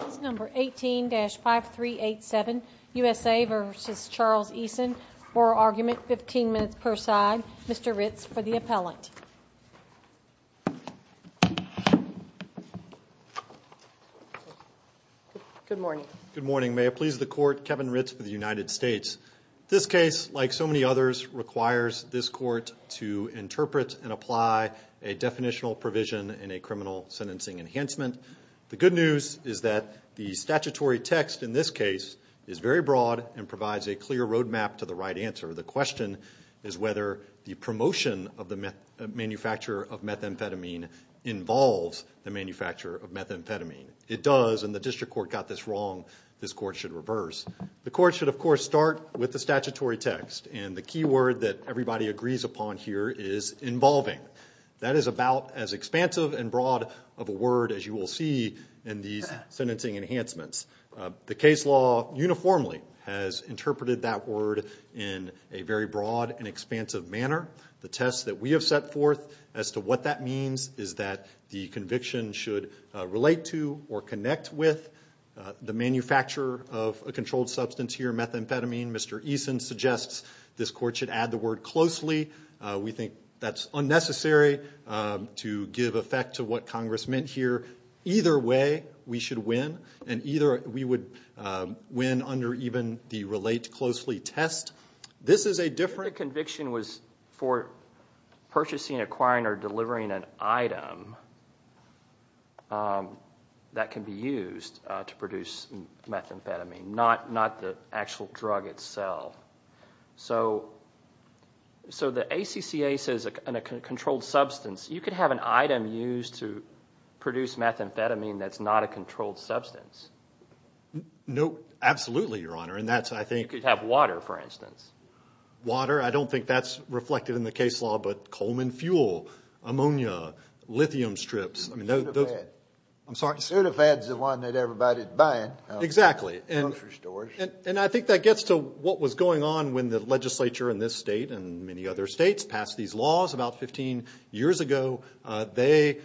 Case number 18-5387, USA v. Charles Eason. Oral argument, 15 minutes per side. Mr. Ritz for the appellant. Good morning. Good morning. May it please the court, Kevin Ritz for the United States. This case, like so many others, requires this court to interpret and apply a definitional provision in a criminal sentencing enhancement. The good news is that the statutory text in this case is very broad and provides a clear road map to the right answer. The question is whether the promotion of the manufacture of methamphetamine involves the manufacture of methamphetamine. It does, and the district court got this wrong. This court should reverse. The court should, of course, start with the statutory text, and the key word that everybody agrees upon here is involving. That is about as expansive and broad of a word as you will see in these sentencing enhancements. The case law uniformly has interpreted that word in a very broad and expansive manner. The test that we have set forth as to what that means is that the conviction should relate to or connect with the manufacture of a controlled substance here, methamphetamine. Mr. Eason suggests this court should add the word closely. We think that's unnecessary to give effect to what Congress meant here. Either way, we should win, and either we would win under even the relate closely test. The conviction was for purchasing, acquiring, or delivering an item that can be used to produce methamphetamine, not the actual drug itself. The ACCA says a controlled substance. You could have an item used to produce methamphetamine that's not a controlled substance. Absolutely, Your Honor. You could have water, for instance. Water? I don't think that's reflected in the case law, but Coleman fuel, ammonia, lithium strips. Soda fed. I'm sorry? Soda fed's the one that everybody's buying. Exactly. Grocery stores. And I think that gets to what was going on when the legislature in this state and many other states passed these laws about 15 years ago. The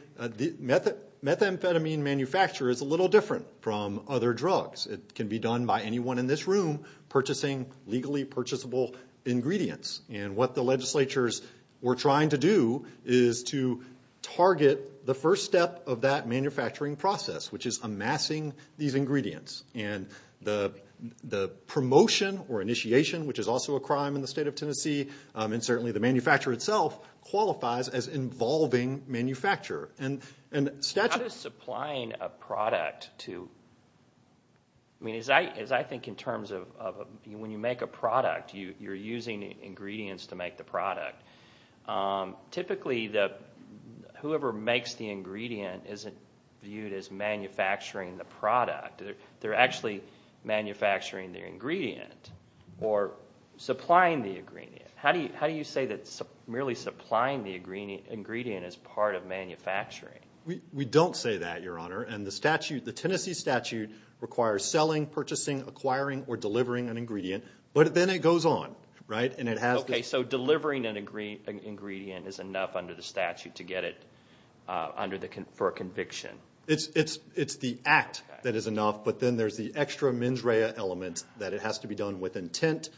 methamphetamine manufacturer is a little different from other drugs. It can be done by anyone in this room purchasing legally purchasable ingredients. And what the legislatures were trying to do is to target the first step of that manufacturing process, which is amassing these ingredients. And the promotion or initiation, which is also a crime in the state of Tennessee, and certainly the manufacturer itself, qualifies as involving manufacturer. How does supplying a product to – I mean, as I think in terms of when you make a product, you're using ingredients to make the product. Typically, whoever makes the ingredient isn't viewed as manufacturing the product. They're actually manufacturing the ingredient or supplying the ingredient. How do you say that merely supplying the ingredient is part of manufacturing? We don't say that, Your Honor. And the Tennessee statute requires selling, purchasing, acquiring, or delivering an ingredient. But then it goes on, right? Okay, so delivering an ingredient is enough under the statute to get it for a conviction. It's the act that is enough. But then there's the extra mens rea element that it has to be done with intent.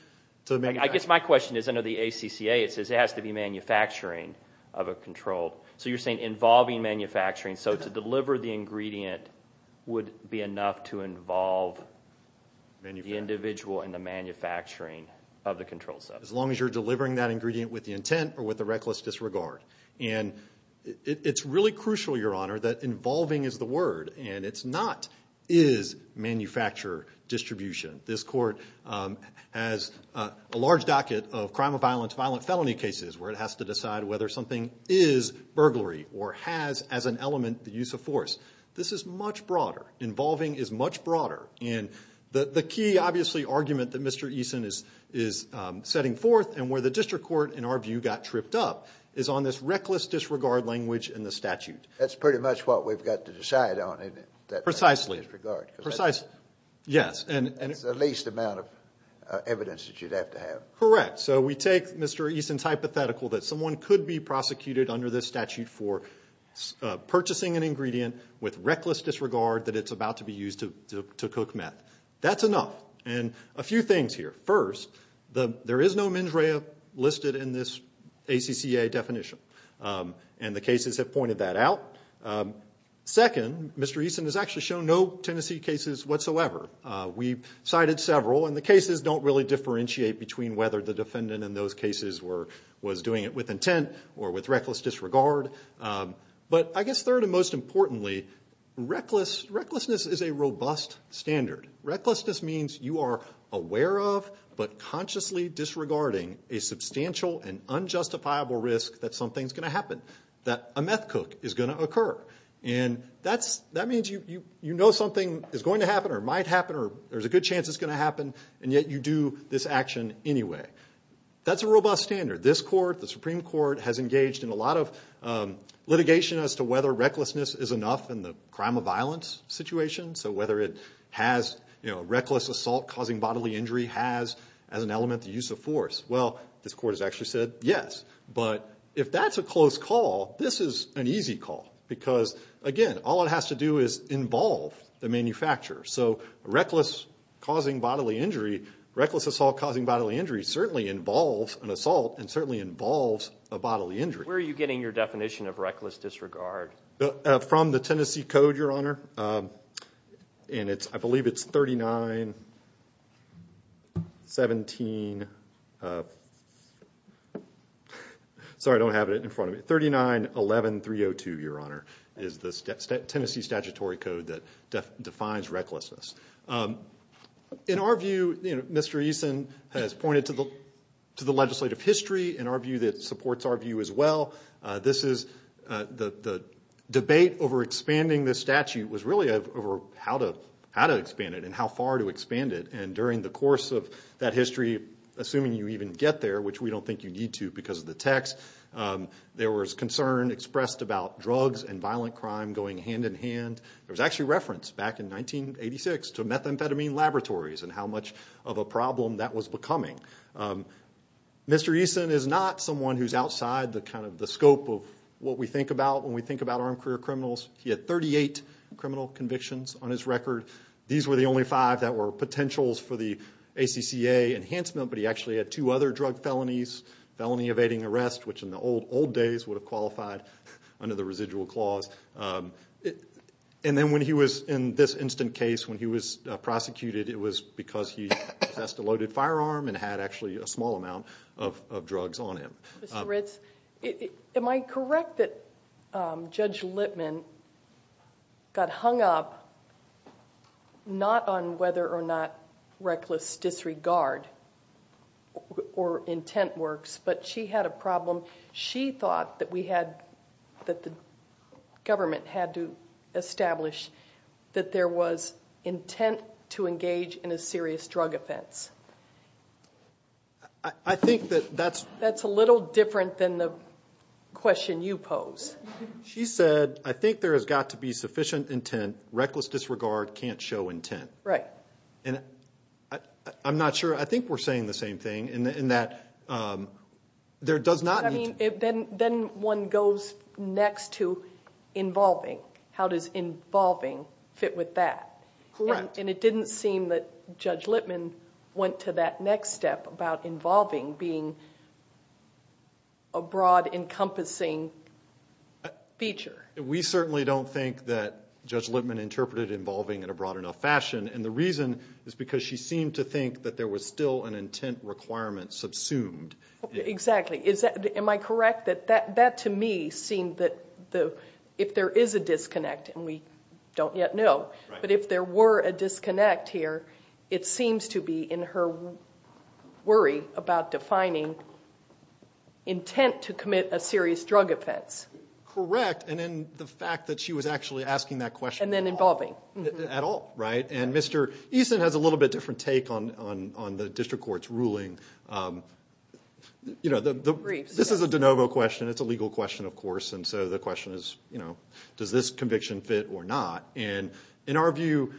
I guess my question is under the ACCA it says it has to be manufacturing of a controlled. So you're saying involving manufacturing. So to deliver the ingredient would be enough to involve the individual in the manufacturing of the controlled substance. As long as you're delivering that ingredient with the intent or with a reckless disregard. And it's really crucial, Your Honor, that involving is the word, and it's not is manufacturer distribution. This court has a large docket of crime of violence, violent felony cases, where it has to decide whether something is burglary or has as an element the use of force. This is much broader. Involving is much broader. And the key, obviously, argument that Mr. Eason is setting forth and where the district court, in our view, got tripped up, is on this reckless disregard language in the statute. That's pretty much what we've got to decide on, isn't it? Precisely. Reckless disregard. Precisely, yes. It's the least amount of evidence that you'd have to have. Correct. So we take Mr. Eason's hypothetical that someone could be prosecuted under this statute for purchasing an ingredient with reckless disregard that it's about to be used to cook meth. That's enough. And a few things here. First, there is no mens rea listed in this ACCA definition. And the cases have pointed that out. Second, Mr. Eason has actually shown no Tennessee cases whatsoever. We've cited several, and the cases don't really differentiate between whether the defendant in those cases was doing it with intent or with reckless disregard. But I guess third and most importantly, recklessness is a robust standard. Recklessness means you are aware of but consciously disregarding a substantial and unjustifiable risk that something's going to happen, that a meth cook is going to occur. And that means you know something is going to happen or might happen or there's a good chance it's going to happen, and yet you do this action anyway. That's a robust standard. This court, the Supreme Court, has engaged in a lot of litigation as to whether recklessness is enough in the crime of violence situation. So whether it has reckless assault causing bodily injury has as an element the use of force. Well, this court has actually said yes. But if that's a close call, this is an easy call because, again, all it has to do is involve the manufacturer. So reckless causing bodily injury, reckless assault causing bodily injury certainly involves an assault and certainly involves a bodily injury. Where are you getting your definition of reckless disregard? From the Tennessee Code, Your Honor, and I believe it's 3917. Sorry, I don't have it in front of me. 3911302, Your Honor, is the Tennessee statutory code that defines recklessness. In our view, Mr. Eason has pointed to the legislative history in our view that supports our view as well. This is the debate over expanding the statute was really over how to expand it and how far to expand it. And during the course of that history, assuming you even get there, which we don't think you need to because of the text, there was concern expressed about drugs and violent crime going hand in hand. There was actually reference back in 1986 to methamphetamine laboratories and how much of a problem that was becoming. Mr. Eason is not someone who's outside the scope of what we think about when we think about armed career criminals. He had 38 criminal convictions on his record. These were the only five that were potentials for the ACCA enhancement, but he actually had two other drug felonies, felony evading arrest, which in the old days would have qualified under the residual clause. And then when he was in this instant case, when he was prosecuted, it was because he possessed a loaded firearm and had actually a small amount of drugs on him. Mr. Ritz, am I correct that Judge Lippman got hung up not on whether or not reckless disregard or intent works, so she thought that we had, that the government had to establish that there was intent to engage in a serious drug offense? I think that that's a little different than the question you pose. She said, I think there has got to be sufficient intent. Reckless disregard can't show intent. Right. I'm not sure. I think we're saying the same thing in that there does not need to. Then one goes next to involving. How does involving fit with that? Correct. And it didn't seem that Judge Lippman went to that next step about involving being a broad encompassing feature. We certainly don't think that Judge Lippman interpreted involving in a broad enough fashion. And the reason is because she seemed to think that there was still an intent requirement subsumed. Exactly. Am I correct that that, to me, seemed that if there is a disconnect, and we don't yet know, but if there were a disconnect here, it seems to be in her worry about defining intent to commit a serious drug offense. Correct. And then the fact that she was actually asking that question at all. And then involving. At all. And Mr. Eason has a little bit different take on the district court's ruling. This is a de novo question. It's a legal question, of course. And so the question is, does this conviction fit or not? And in our view,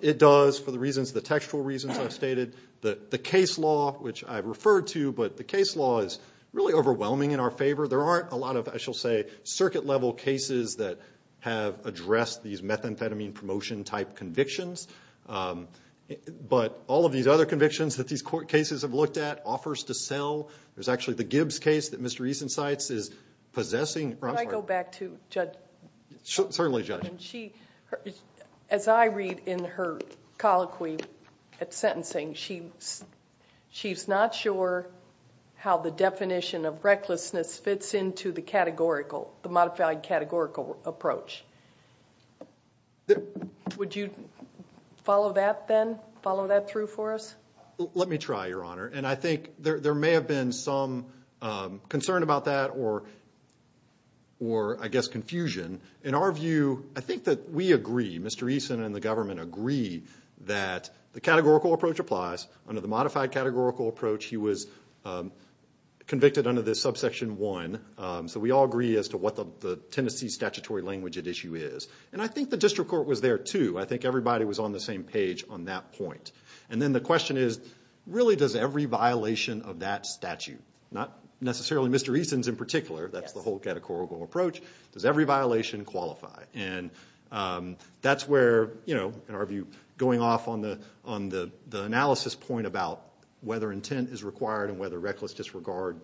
it does for the reasons, the textual reasons I've stated. The case law, which I've referred to, but the case law is really overwhelming in our favor. There aren't a lot of, I shall say, circuit level cases that have addressed these methamphetamine promotion type convictions. But all of these other convictions that these court cases have looked at offers to sell. There's actually the Gibbs case that Mr. Eason cites is possessing. Can I go back to Judge Lippman? Certainly, Judge. As I read in her colloquy at sentencing, she's not sure how the definition of recklessness fits into the categorical, the modified categorical approach. Would you follow that then? Follow that through for us? Let me try, Your Honor. And I think there may have been some concern about that or, I guess, confusion. In our view, I think that we agree, Mr. Eason and the government agree, that the categorical approach applies. Under the modified categorical approach, he was convicted under this subsection 1. So we all agree as to what the Tennessee statutory language at issue is. And I think the district court was there too. I think everybody was on the same page on that point. And then the question is, really, does every violation of that statute, not necessarily Mr. Eason's in particular. That's the whole categorical approach. Does every violation qualify? And that's where, in our view, going off on the analysis point about whether intent is required and whether reckless disregard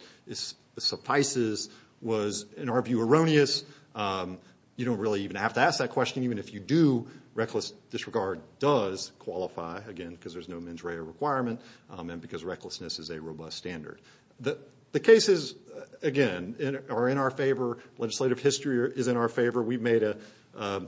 suffices was, in our view, erroneous. You don't really even have to ask that question. Even if you do, reckless disregard does qualify, again, because there's no mens rea requirement and because recklessness is a robust standard. The cases, again, are in our favor. Legislative history is in our favor. We've made a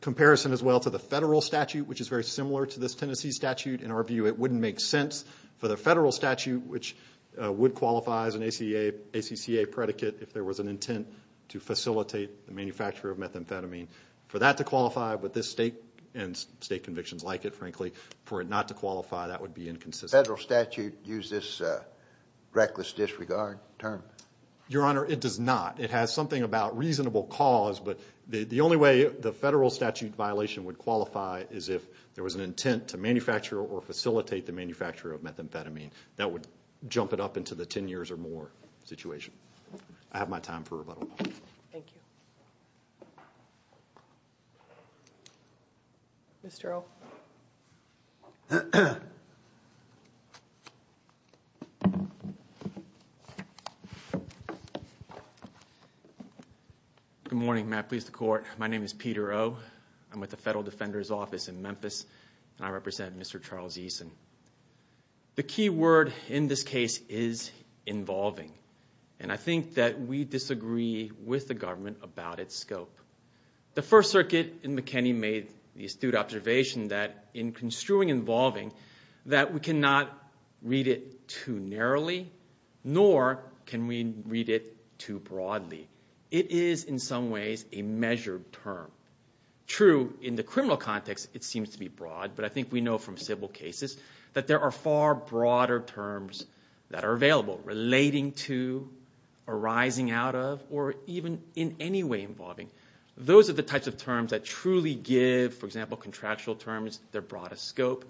comparison as well to the federal statute, which is very similar to this Tennessee statute. In our view, it wouldn't make sense for the federal statute, which would qualify as an ACCA predicate if there was an intent to facilitate the manufacture of methamphetamine. For that to qualify with this state and state convictions like it, frankly, for it not to qualify, that would be inconsistent. Does the federal statute use this reckless disregard term? Your Honor, it does not. It has something about reasonable cause, but the only way the federal statute violation would qualify is if there was an intent to manufacture or facilitate the manufacture of methamphetamine. That would jump it up into the 10 years or more situation. I have my time for rebuttal. Thank you. Mr. O? Good morning. My name is Peter O. I'm with the Federal Defender's Office in Memphis, and I represent Mr. Charles Eason. The key word in this case is involving. And I think that we disagree with the government about its scope. The First Circuit in McKinney made the astute observation that in construing involving, that we cannot read it too narrowly, nor can we read it too broadly. It is, in some ways, a measured term. True, in the criminal context, it seems to be broad, but I think we know from civil cases that there are far broader terms that are available, relating to, arising out of, or even in any way involving. Those are the types of terms that truly give, for example, contractual terms their broadest scope.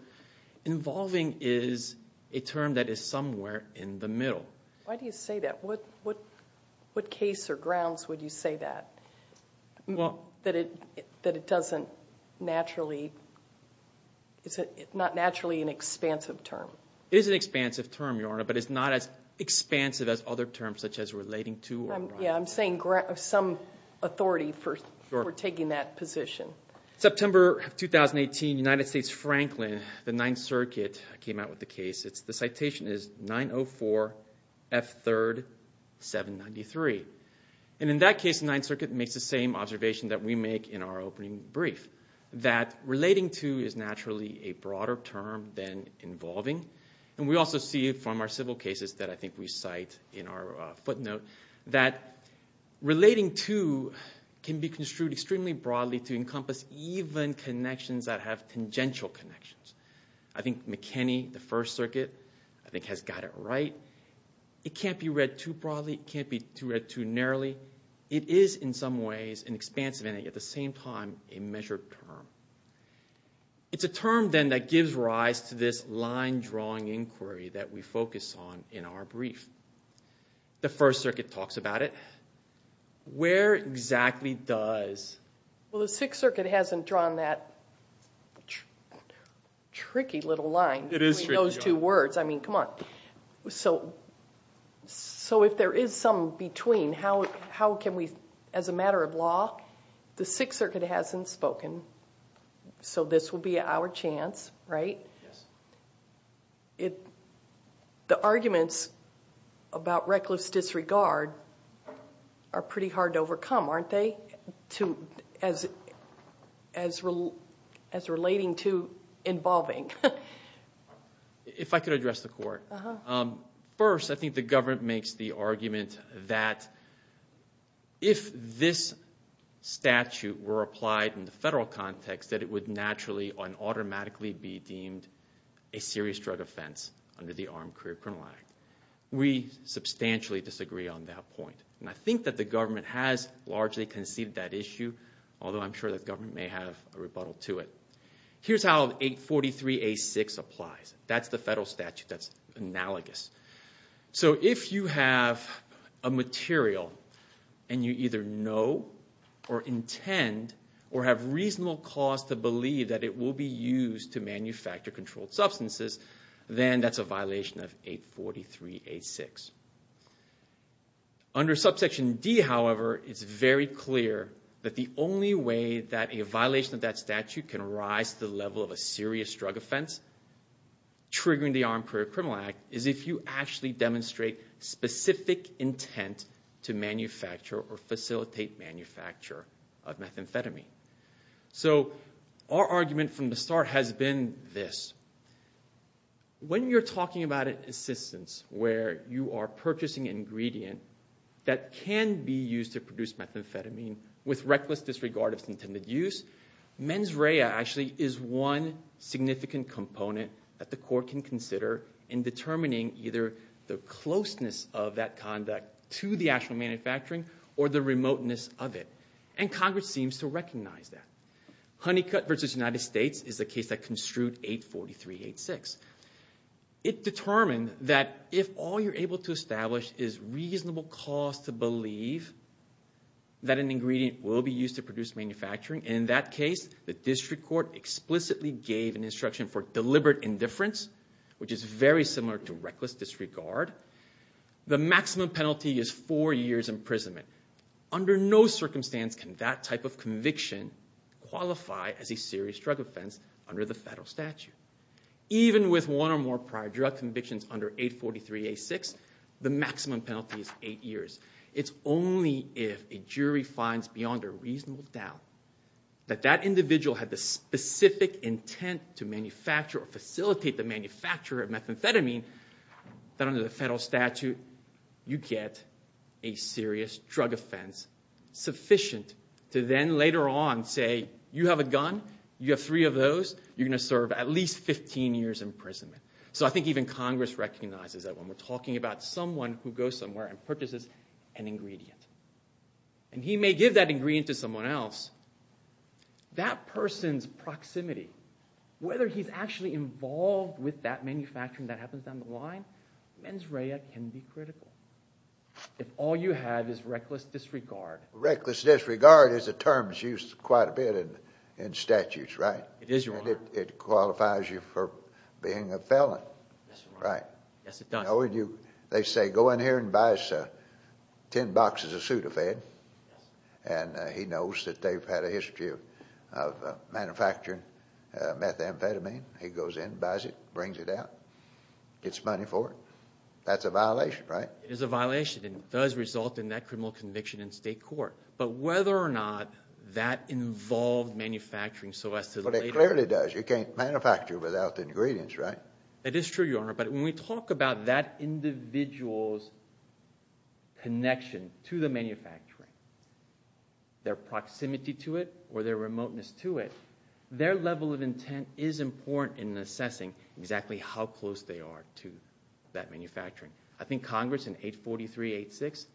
Involving is a term that is somewhere in the middle. Why do you say that? What case or grounds would you say that? That it doesn't naturally, it's not naturally an expansive term. It is an expansive term, Your Honor, but it's not as expansive as other terms such as relating to or arising out of. Yeah, I'm saying some authority for taking that position. Well, September of 2018, United States Franklin, the Ninth Circuit, came out with a case. The citation is 904 F3rd 793. And in that case, the Ninth Circuit makes the same observation that we make in our opening brief, that relating to is naturally a broader term than involving. And we also see it from our civil cases that I think we cite in our footnote that relating to can be construed extremely broadly to encompass even connections that have tangential connections. I think McKinney, the First Circuit, I think has got it right. It can't be read too broadly. It can't be read too narrowly. It is in some ways an expansive and at the same time a measured term. It's a term then that gives rise to this line drawing inquiry that we focus on in our brief. The First Circuit talks about it. Where exactly does? Well, the Sixth Circuit hasn't drawn that tricky little line between those two words. I mean, come on. So if there is some between, how can we, as a matter of law, the Sixth Circuit hasn't spoken. So this will be our chance, right? Yes. The arguments about reckless disregard are pretty hard to overcome, aren't they, as relating to involving? If I could address the court. First, I think the government makes the argument that if this statute were applied in the federal context, that it would naturally and automatically be deemed a serious drug offense under the Armed Career Criminal Act. We substantially disagree on that point. And I think that the government has largely conceded that issue, although I'm sure the government may have a rebuttal to it. Here's how 843A6 applies. That's the federal statute that's analogous. So if you have a material and you either know or intend or have reasonable cause to believe that it will be used to manufacture controlled substances, then that's a violation of 843A6. Under subsection D, however, it's very clear that the only way that a violation of that statute can rise to the level of a serious drug offense, triggering the Armed Career Criminal Act, is if you actually demonstrate specific intent to manufacture or facilitate manufacture of methamphetamine. So our argument from the start has been this. When you're talking about assistance where you are purchasing an ingredient that can be used to produce methamphetamine with reckless disregard of its intended use, mens rea actually is one significant component that the court can consider in determining either the closeness of that conduct to the actual manufacturing or the remoteness of it. And Congress seems to recognize that. Honeycutt v. United States is the case that construed 843A6. It determined that if all you're able to establish is reasonable cause to believe that an ingredient will be used to produce manufacturing, in that case, the district court explicitly gave an instruction for deliberate indifference, which is very similar to reckless disregard. The maximum penalty is four years imprisonment. Under no circumstance can that type of conviction qualify as a serious drug offense under the federal statute. Even with one or more prior drug convictions under 843A6, the maximum penalty is eight years. It's only if a jury finds beyond a reasonable doubt that that individual had the specific intent to manufacture or facilitate the manufacture of methamphetamine that under the federal statute you get a serious drug offense sufficient to then later on say, you have a gun, you have three of those, you're going to serve at least 15 years imprisonment. So I think even Congress recognizes that when we're talking about someone who goes somewhere and purchases an ingredient, and he may give that ingredient to someone else, that person's proximity, whether he's actually involved with that manufacturing that happens down the line, mens rea can be critical if all you have is reckless disregard. Reckless disregard is a term that's used quite a bit in statutes, right? It is, Your Honor. And it qualifies you for being a felon, right? Yes, Your Honor. Yes, it does. They say, go in here and buy us 10 boxes of Sudafed, and he knows that they've had a history of manufacturing methamphetamine. He goes in, buys it, brings it out, gets money for it. That's a violation, right? It is a violation, and it does result in that criminal conviction in state court. But whether or not that involved manufacturing so as to later – But it clearly does. You can't manufacture without the ingredients, right? It is true, Your Honor, but when we talk about that individual's connection to the manufacturing, their proximity to it or their remoteness to it, their level of intent is important in assessing exactly how close they are to that manufacturing. I think Congress in 843-86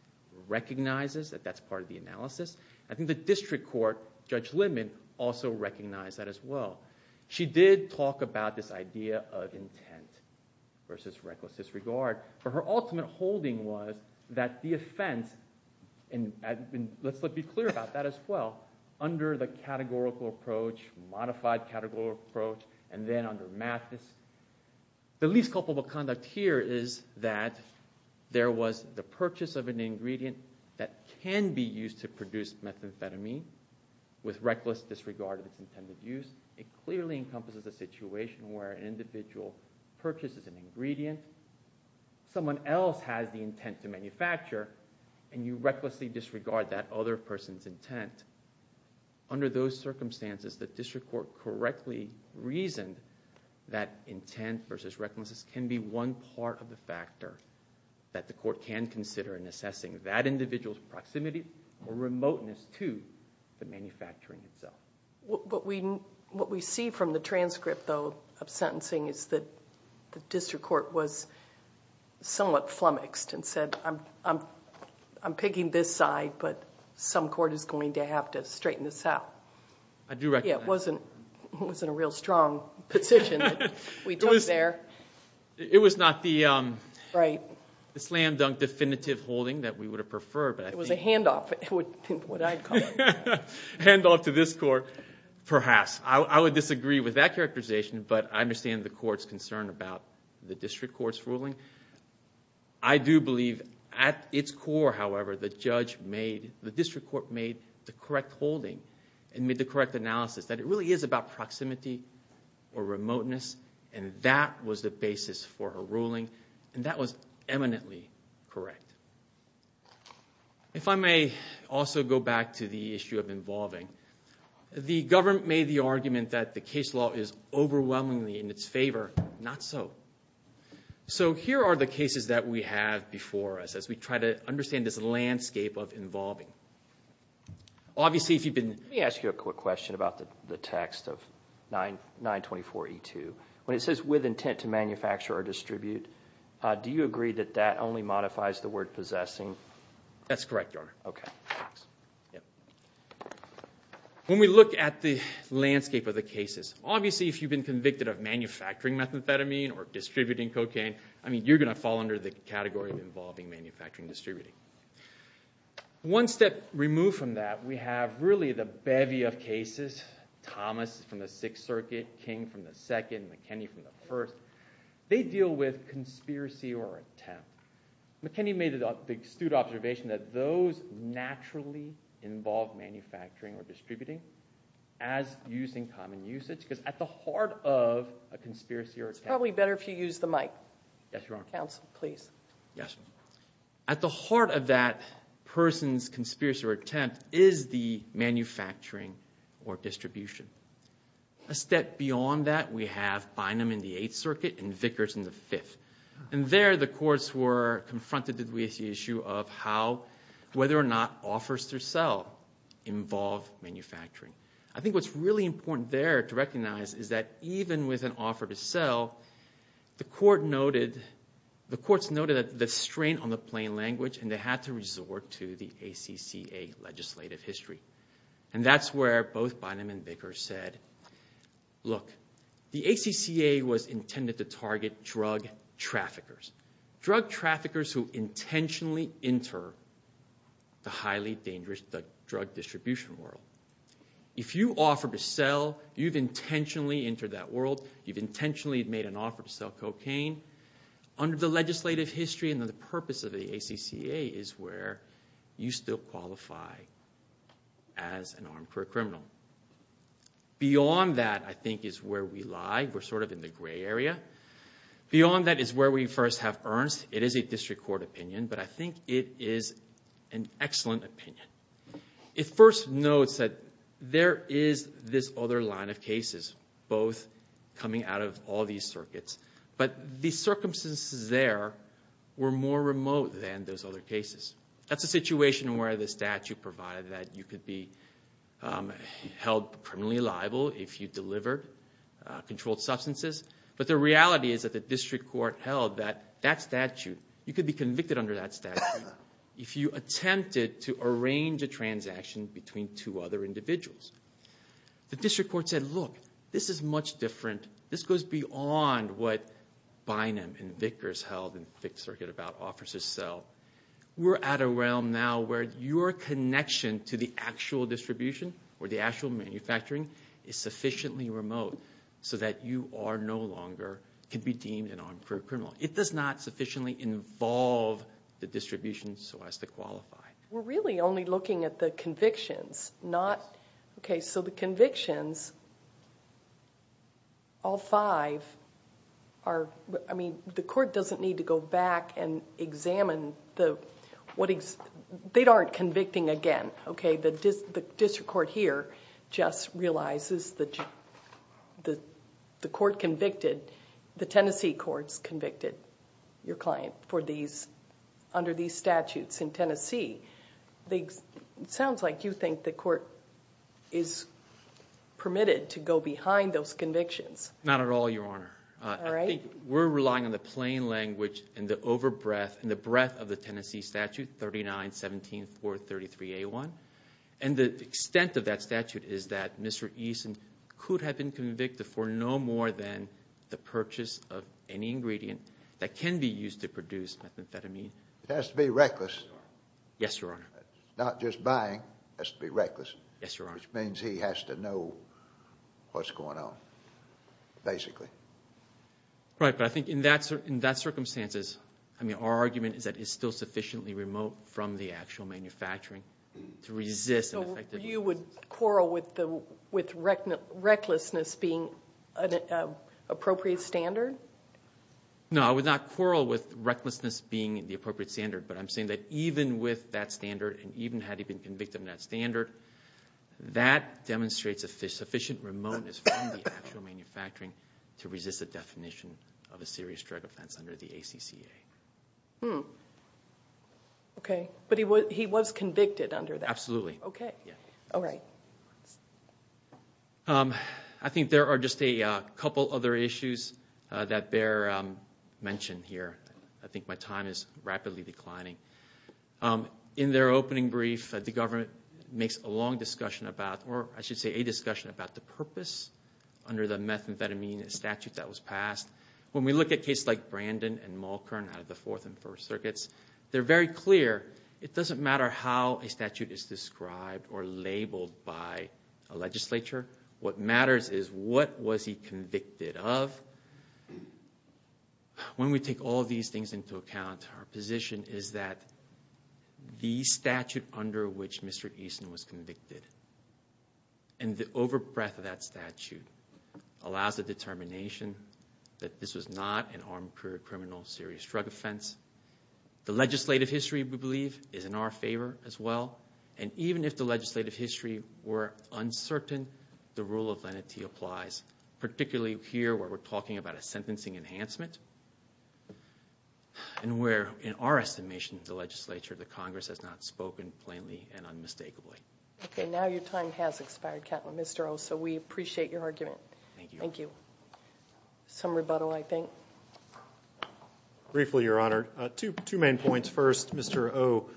recognizes that that's part of the analysis. I think the district court, Judge Lindman, also recognized that as well. She did talk about this idea of intent versus reckless disregard, but her ultimate holding was that the offense – and let's be clear about that as well. Under the categorical approach, modified categorical approach, and then under Mathis, the least culpable conduct here is that there was the purchase of an ingredient that can be used to produce methamphetamine with reckless disregard of its intended use. It clearly encompasses a situation where an individual purchases an ingredient. Someone else has the intent to manufacture, and you recklessly disregard that other person's intent. Under those circumstances, the district court correctly reasoned that intent versus recklessness can be one part of the factor that the court can consider in assessing that individual's proximity or remoteness to the manufacturing itself. What we see from the transcript, though, of sentencing is that the district court was somewhat flummoxed and said, I'm picking this side, but some court is going to have to straighten this out. I do recognize that. It wasn't a real strong position that we took there. It was not the slam-dunk definitive holding that we would have preferred. It was a handoff, would I call it. Handoff to this court, perhaps. I would disagree with that characterization, but I understand the court's concern about the district court's ruling. I do believe at its core, however, the judge made, the district court made the correct holding and made the correct analysis that it really is about proximity or remoteness, and that was the basis for her ruling, and that was eminently correct. If I may also go back to the issue of involving, the government made the argument that the case law is overwhelmingly in its favor. Not so. So here are the cases that we have before us as we try to understand this landscape of involving. Let me ask you a quick question about the text of 924E2. When it says, with intent to manufacture or distribute, do you agree that that only modifies the word possessing? That's correct, Your Honor. Okay. When we look at the landscape of the cases, obviously if you've been convicted of manufacturing methamphetamine or distributing cocaine, you're going to fall under the category of involving manufacturing and distributing. One step removed from that, we have really the bevy of cases. Thomas from the Sixth Circuit, King from the Second, McKinney from the First. They deal with conspiracy or attempt. McKinney made the astute observation that those naturally involve manufacturing or distributing as using common usage, because at the heart of a conspiracy or attempt... It's probably better if you use the mic. Yes, Your Honor. Counsel, please. Yes. At the heart of that person's conspiracy or attempt is the manufacturing or distribution. A step beyond that, we have Bynum in the Eighth Circuit and Vickers in the Fifth. And there, the courts were confronted with the issue of how, whether or not offers to sell involve manufacturing. I think what's really important there to recognize is that even with an offer to sell, the courts noted the strain on the plain language and they had to resort to the ACCA legislative history. And that's where both Bynum and Vickers said, look, the ACCA was intended to target drug traffickers. Drug traffickers who intentionally enter the highly dangerous drug distribution world. If you offer to sell, you've intentionally entered that world, you've intentionally made an offer to sell cocaine. Under the legislative history and the purpose of the ACCA is where you still qualify as an armed criminal. Beyond that, I think, is where we lie. We're sort of in the gray area. Beyond that is where we first have Ernst. It is a district court opinion, but I think it is an excellent opinion. It first notes that there is this other line of cases, both coming out of all these circuits. But the circumstances there were more remote than those other cases. That's a situation where the statute provided that you could be held criminally liable if you delivered controlled substances. But the reality is that the district court held that that statute, you could be convicted under that statute if you attempted to arrange a transaction between two other individuals. The district court said, look, this is much different. This goes beyond what Bynum and Vickers held in the Fifth Circuit about offers to sell. We're at a realm now where your connection to the actual distribution or the actual manufacturing is sufficiently remote so that you are no longer could be deemed an armed criminal. It does not sufficiently involve the distribution so as to qualify. We're really only looking at the convictions, not... Okay, so the convictions, all five are... I mean, the court doesn't need to go back and examine the... They aren't convicting again. Okay, the district court here just realizes that the court convicted, the Tennessee courts convicted your client for these, under these statutes in Tennessee. It sounds like you think the court is permitted to go behind those convictions. Not at all, Your Honor. All right. I think we're relying on the plain language and the over-breath and the breath of the Tennessee statute 39-17-433-A1. And the extent of that statute is that Mr. Eason could have been convicted for no more than the purchase of any ingredient that can be used to produce methamphetamine. It has to be reckless. Yes, Your Honor. It's not just buying. It has to be reckless. Yes, Your Honor. Which means he has to know what's going on, basically. Right, but I think in that circumstances, I mean, our argument is that it's still sufficiently remote from the actual manufacturing to resist... So you would quarrel with recklessness being an appropriate standard? No, I would not quarrel with recklessness being the appropriate standard, but I'm saying that even with that standard and even had he been convicted in that standard, that demonstrates a sufficient remoteness from the actual manufacturing to resist the definition of a serious drug offense under the ACCA. Okay, but he was convicted under that? Absolutely. Okay. All right. I think there are just a couple other issues that bear mention here. I think my time is rapidly declining. In their opening brief, the government makes a long discussion about, or I should say a discussion about the purpose under the methamphetamine statute that was passed. When we look at cases like Brandon and Malkern out of the Fourth and First Circuits, they're very clear. It doesn't matter how a statute is described or labeled by a legislature. What matters is what was he convicted of. When we take all these things into account, our position is that the statute under which Mr. Easton was convicted and the over-breath of that statute allows the determination that this was not an armed criminal serious drug offense. The legislative history, we believe, is in our favor as well, and even if the legislative history were uncertain, the rule of lenity applies, particularly here where we're talking about a sentencing enhancement and where, in our estimation of the legislature, the Congress has not spoken plainly and unmistakably. Okay. Now your time has expired, Mr. O, so we appreciate your argument. Thank you. Thank you. Some rebuttal, I think. Briefly, Your Honor, two main points. First, Mr. O,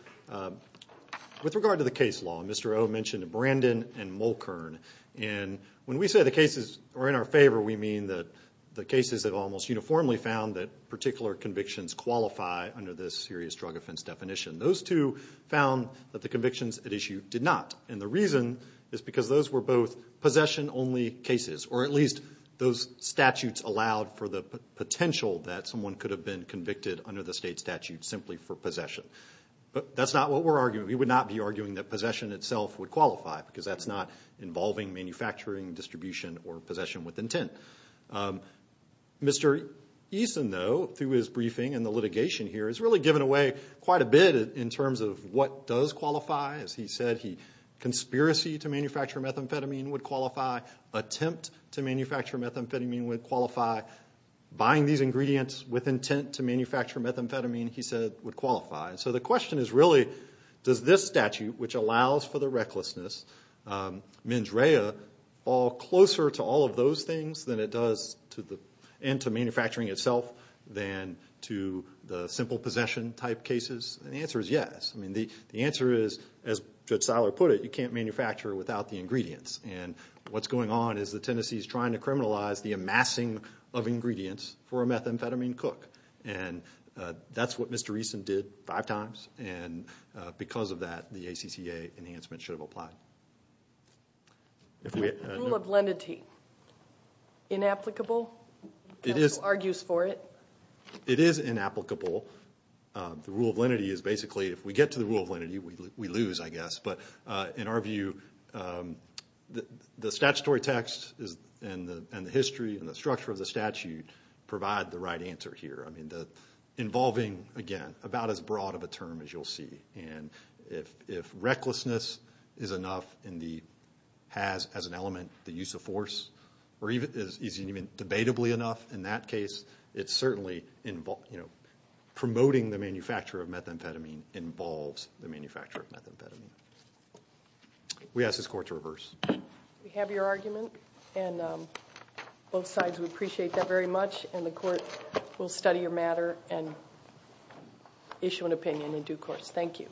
with regard to the case law, Mr. O mentioned Brandon and Malkern. When we say the cases are in our favor, we mean that the cases have almost uniformly found that particular convictions qualify under this serious drug offense definition. Those two found that the convictions at issue did not, and the reason is because those were both possession-only cases, or at least those statutes allowed for the potential that someone could have been convicted under the state statute simply for possession. But that's not what we're arguing. We would not be arguing that possession itself would qualify because that's not involving manufacturing, distribution, or possession with intent. Mr. Eason, though, through his briefing and the litigation here, has really given away quite a bit in terms of what does qualify. As he said, conspiracy to manufacture methamphetamine would qualify. Attempt to manufacture methamphetamine would qualify. Buying these ingredients with intent to manufacture methamphetamine, he said, would qualify. So the question is really, does this statute, which allows for the recklessness, mens rea, fall closer to all of those things and to manufacturing itself than to the simple possession-type cases? The answer is yes. The answer is, as Judge Seiler put it, you can't manufacture without the ingredients. What's going on is that Tennessee is trying to criminalize the amassing of ingredients for a methamphetamine cook. That's what Mr. Eason did five times, and because of that, the ACCA enhancement should have applied. Rule of lenity. Inapplicable? He argues for it. It is inapplicable. The rule of lenity is basically, if we get to the rule of lenity, we lose, I guess. In our view, the statutory text and the history and the structure of the statute provide the right answer here. Involving, again, about as broad of a term as you'll see. If recklessness is enough and has, as an element, the use of force, or is even debatably enough in that case, it's certainly, you know, promoting the manufacture of methamphetamine involves the manufacture of methamphetamine. We ask this Court to reverse. We have your argument, and both sides, we appreciate that very much, and the Court will study your matter and issue an opinion in due course. Thank you.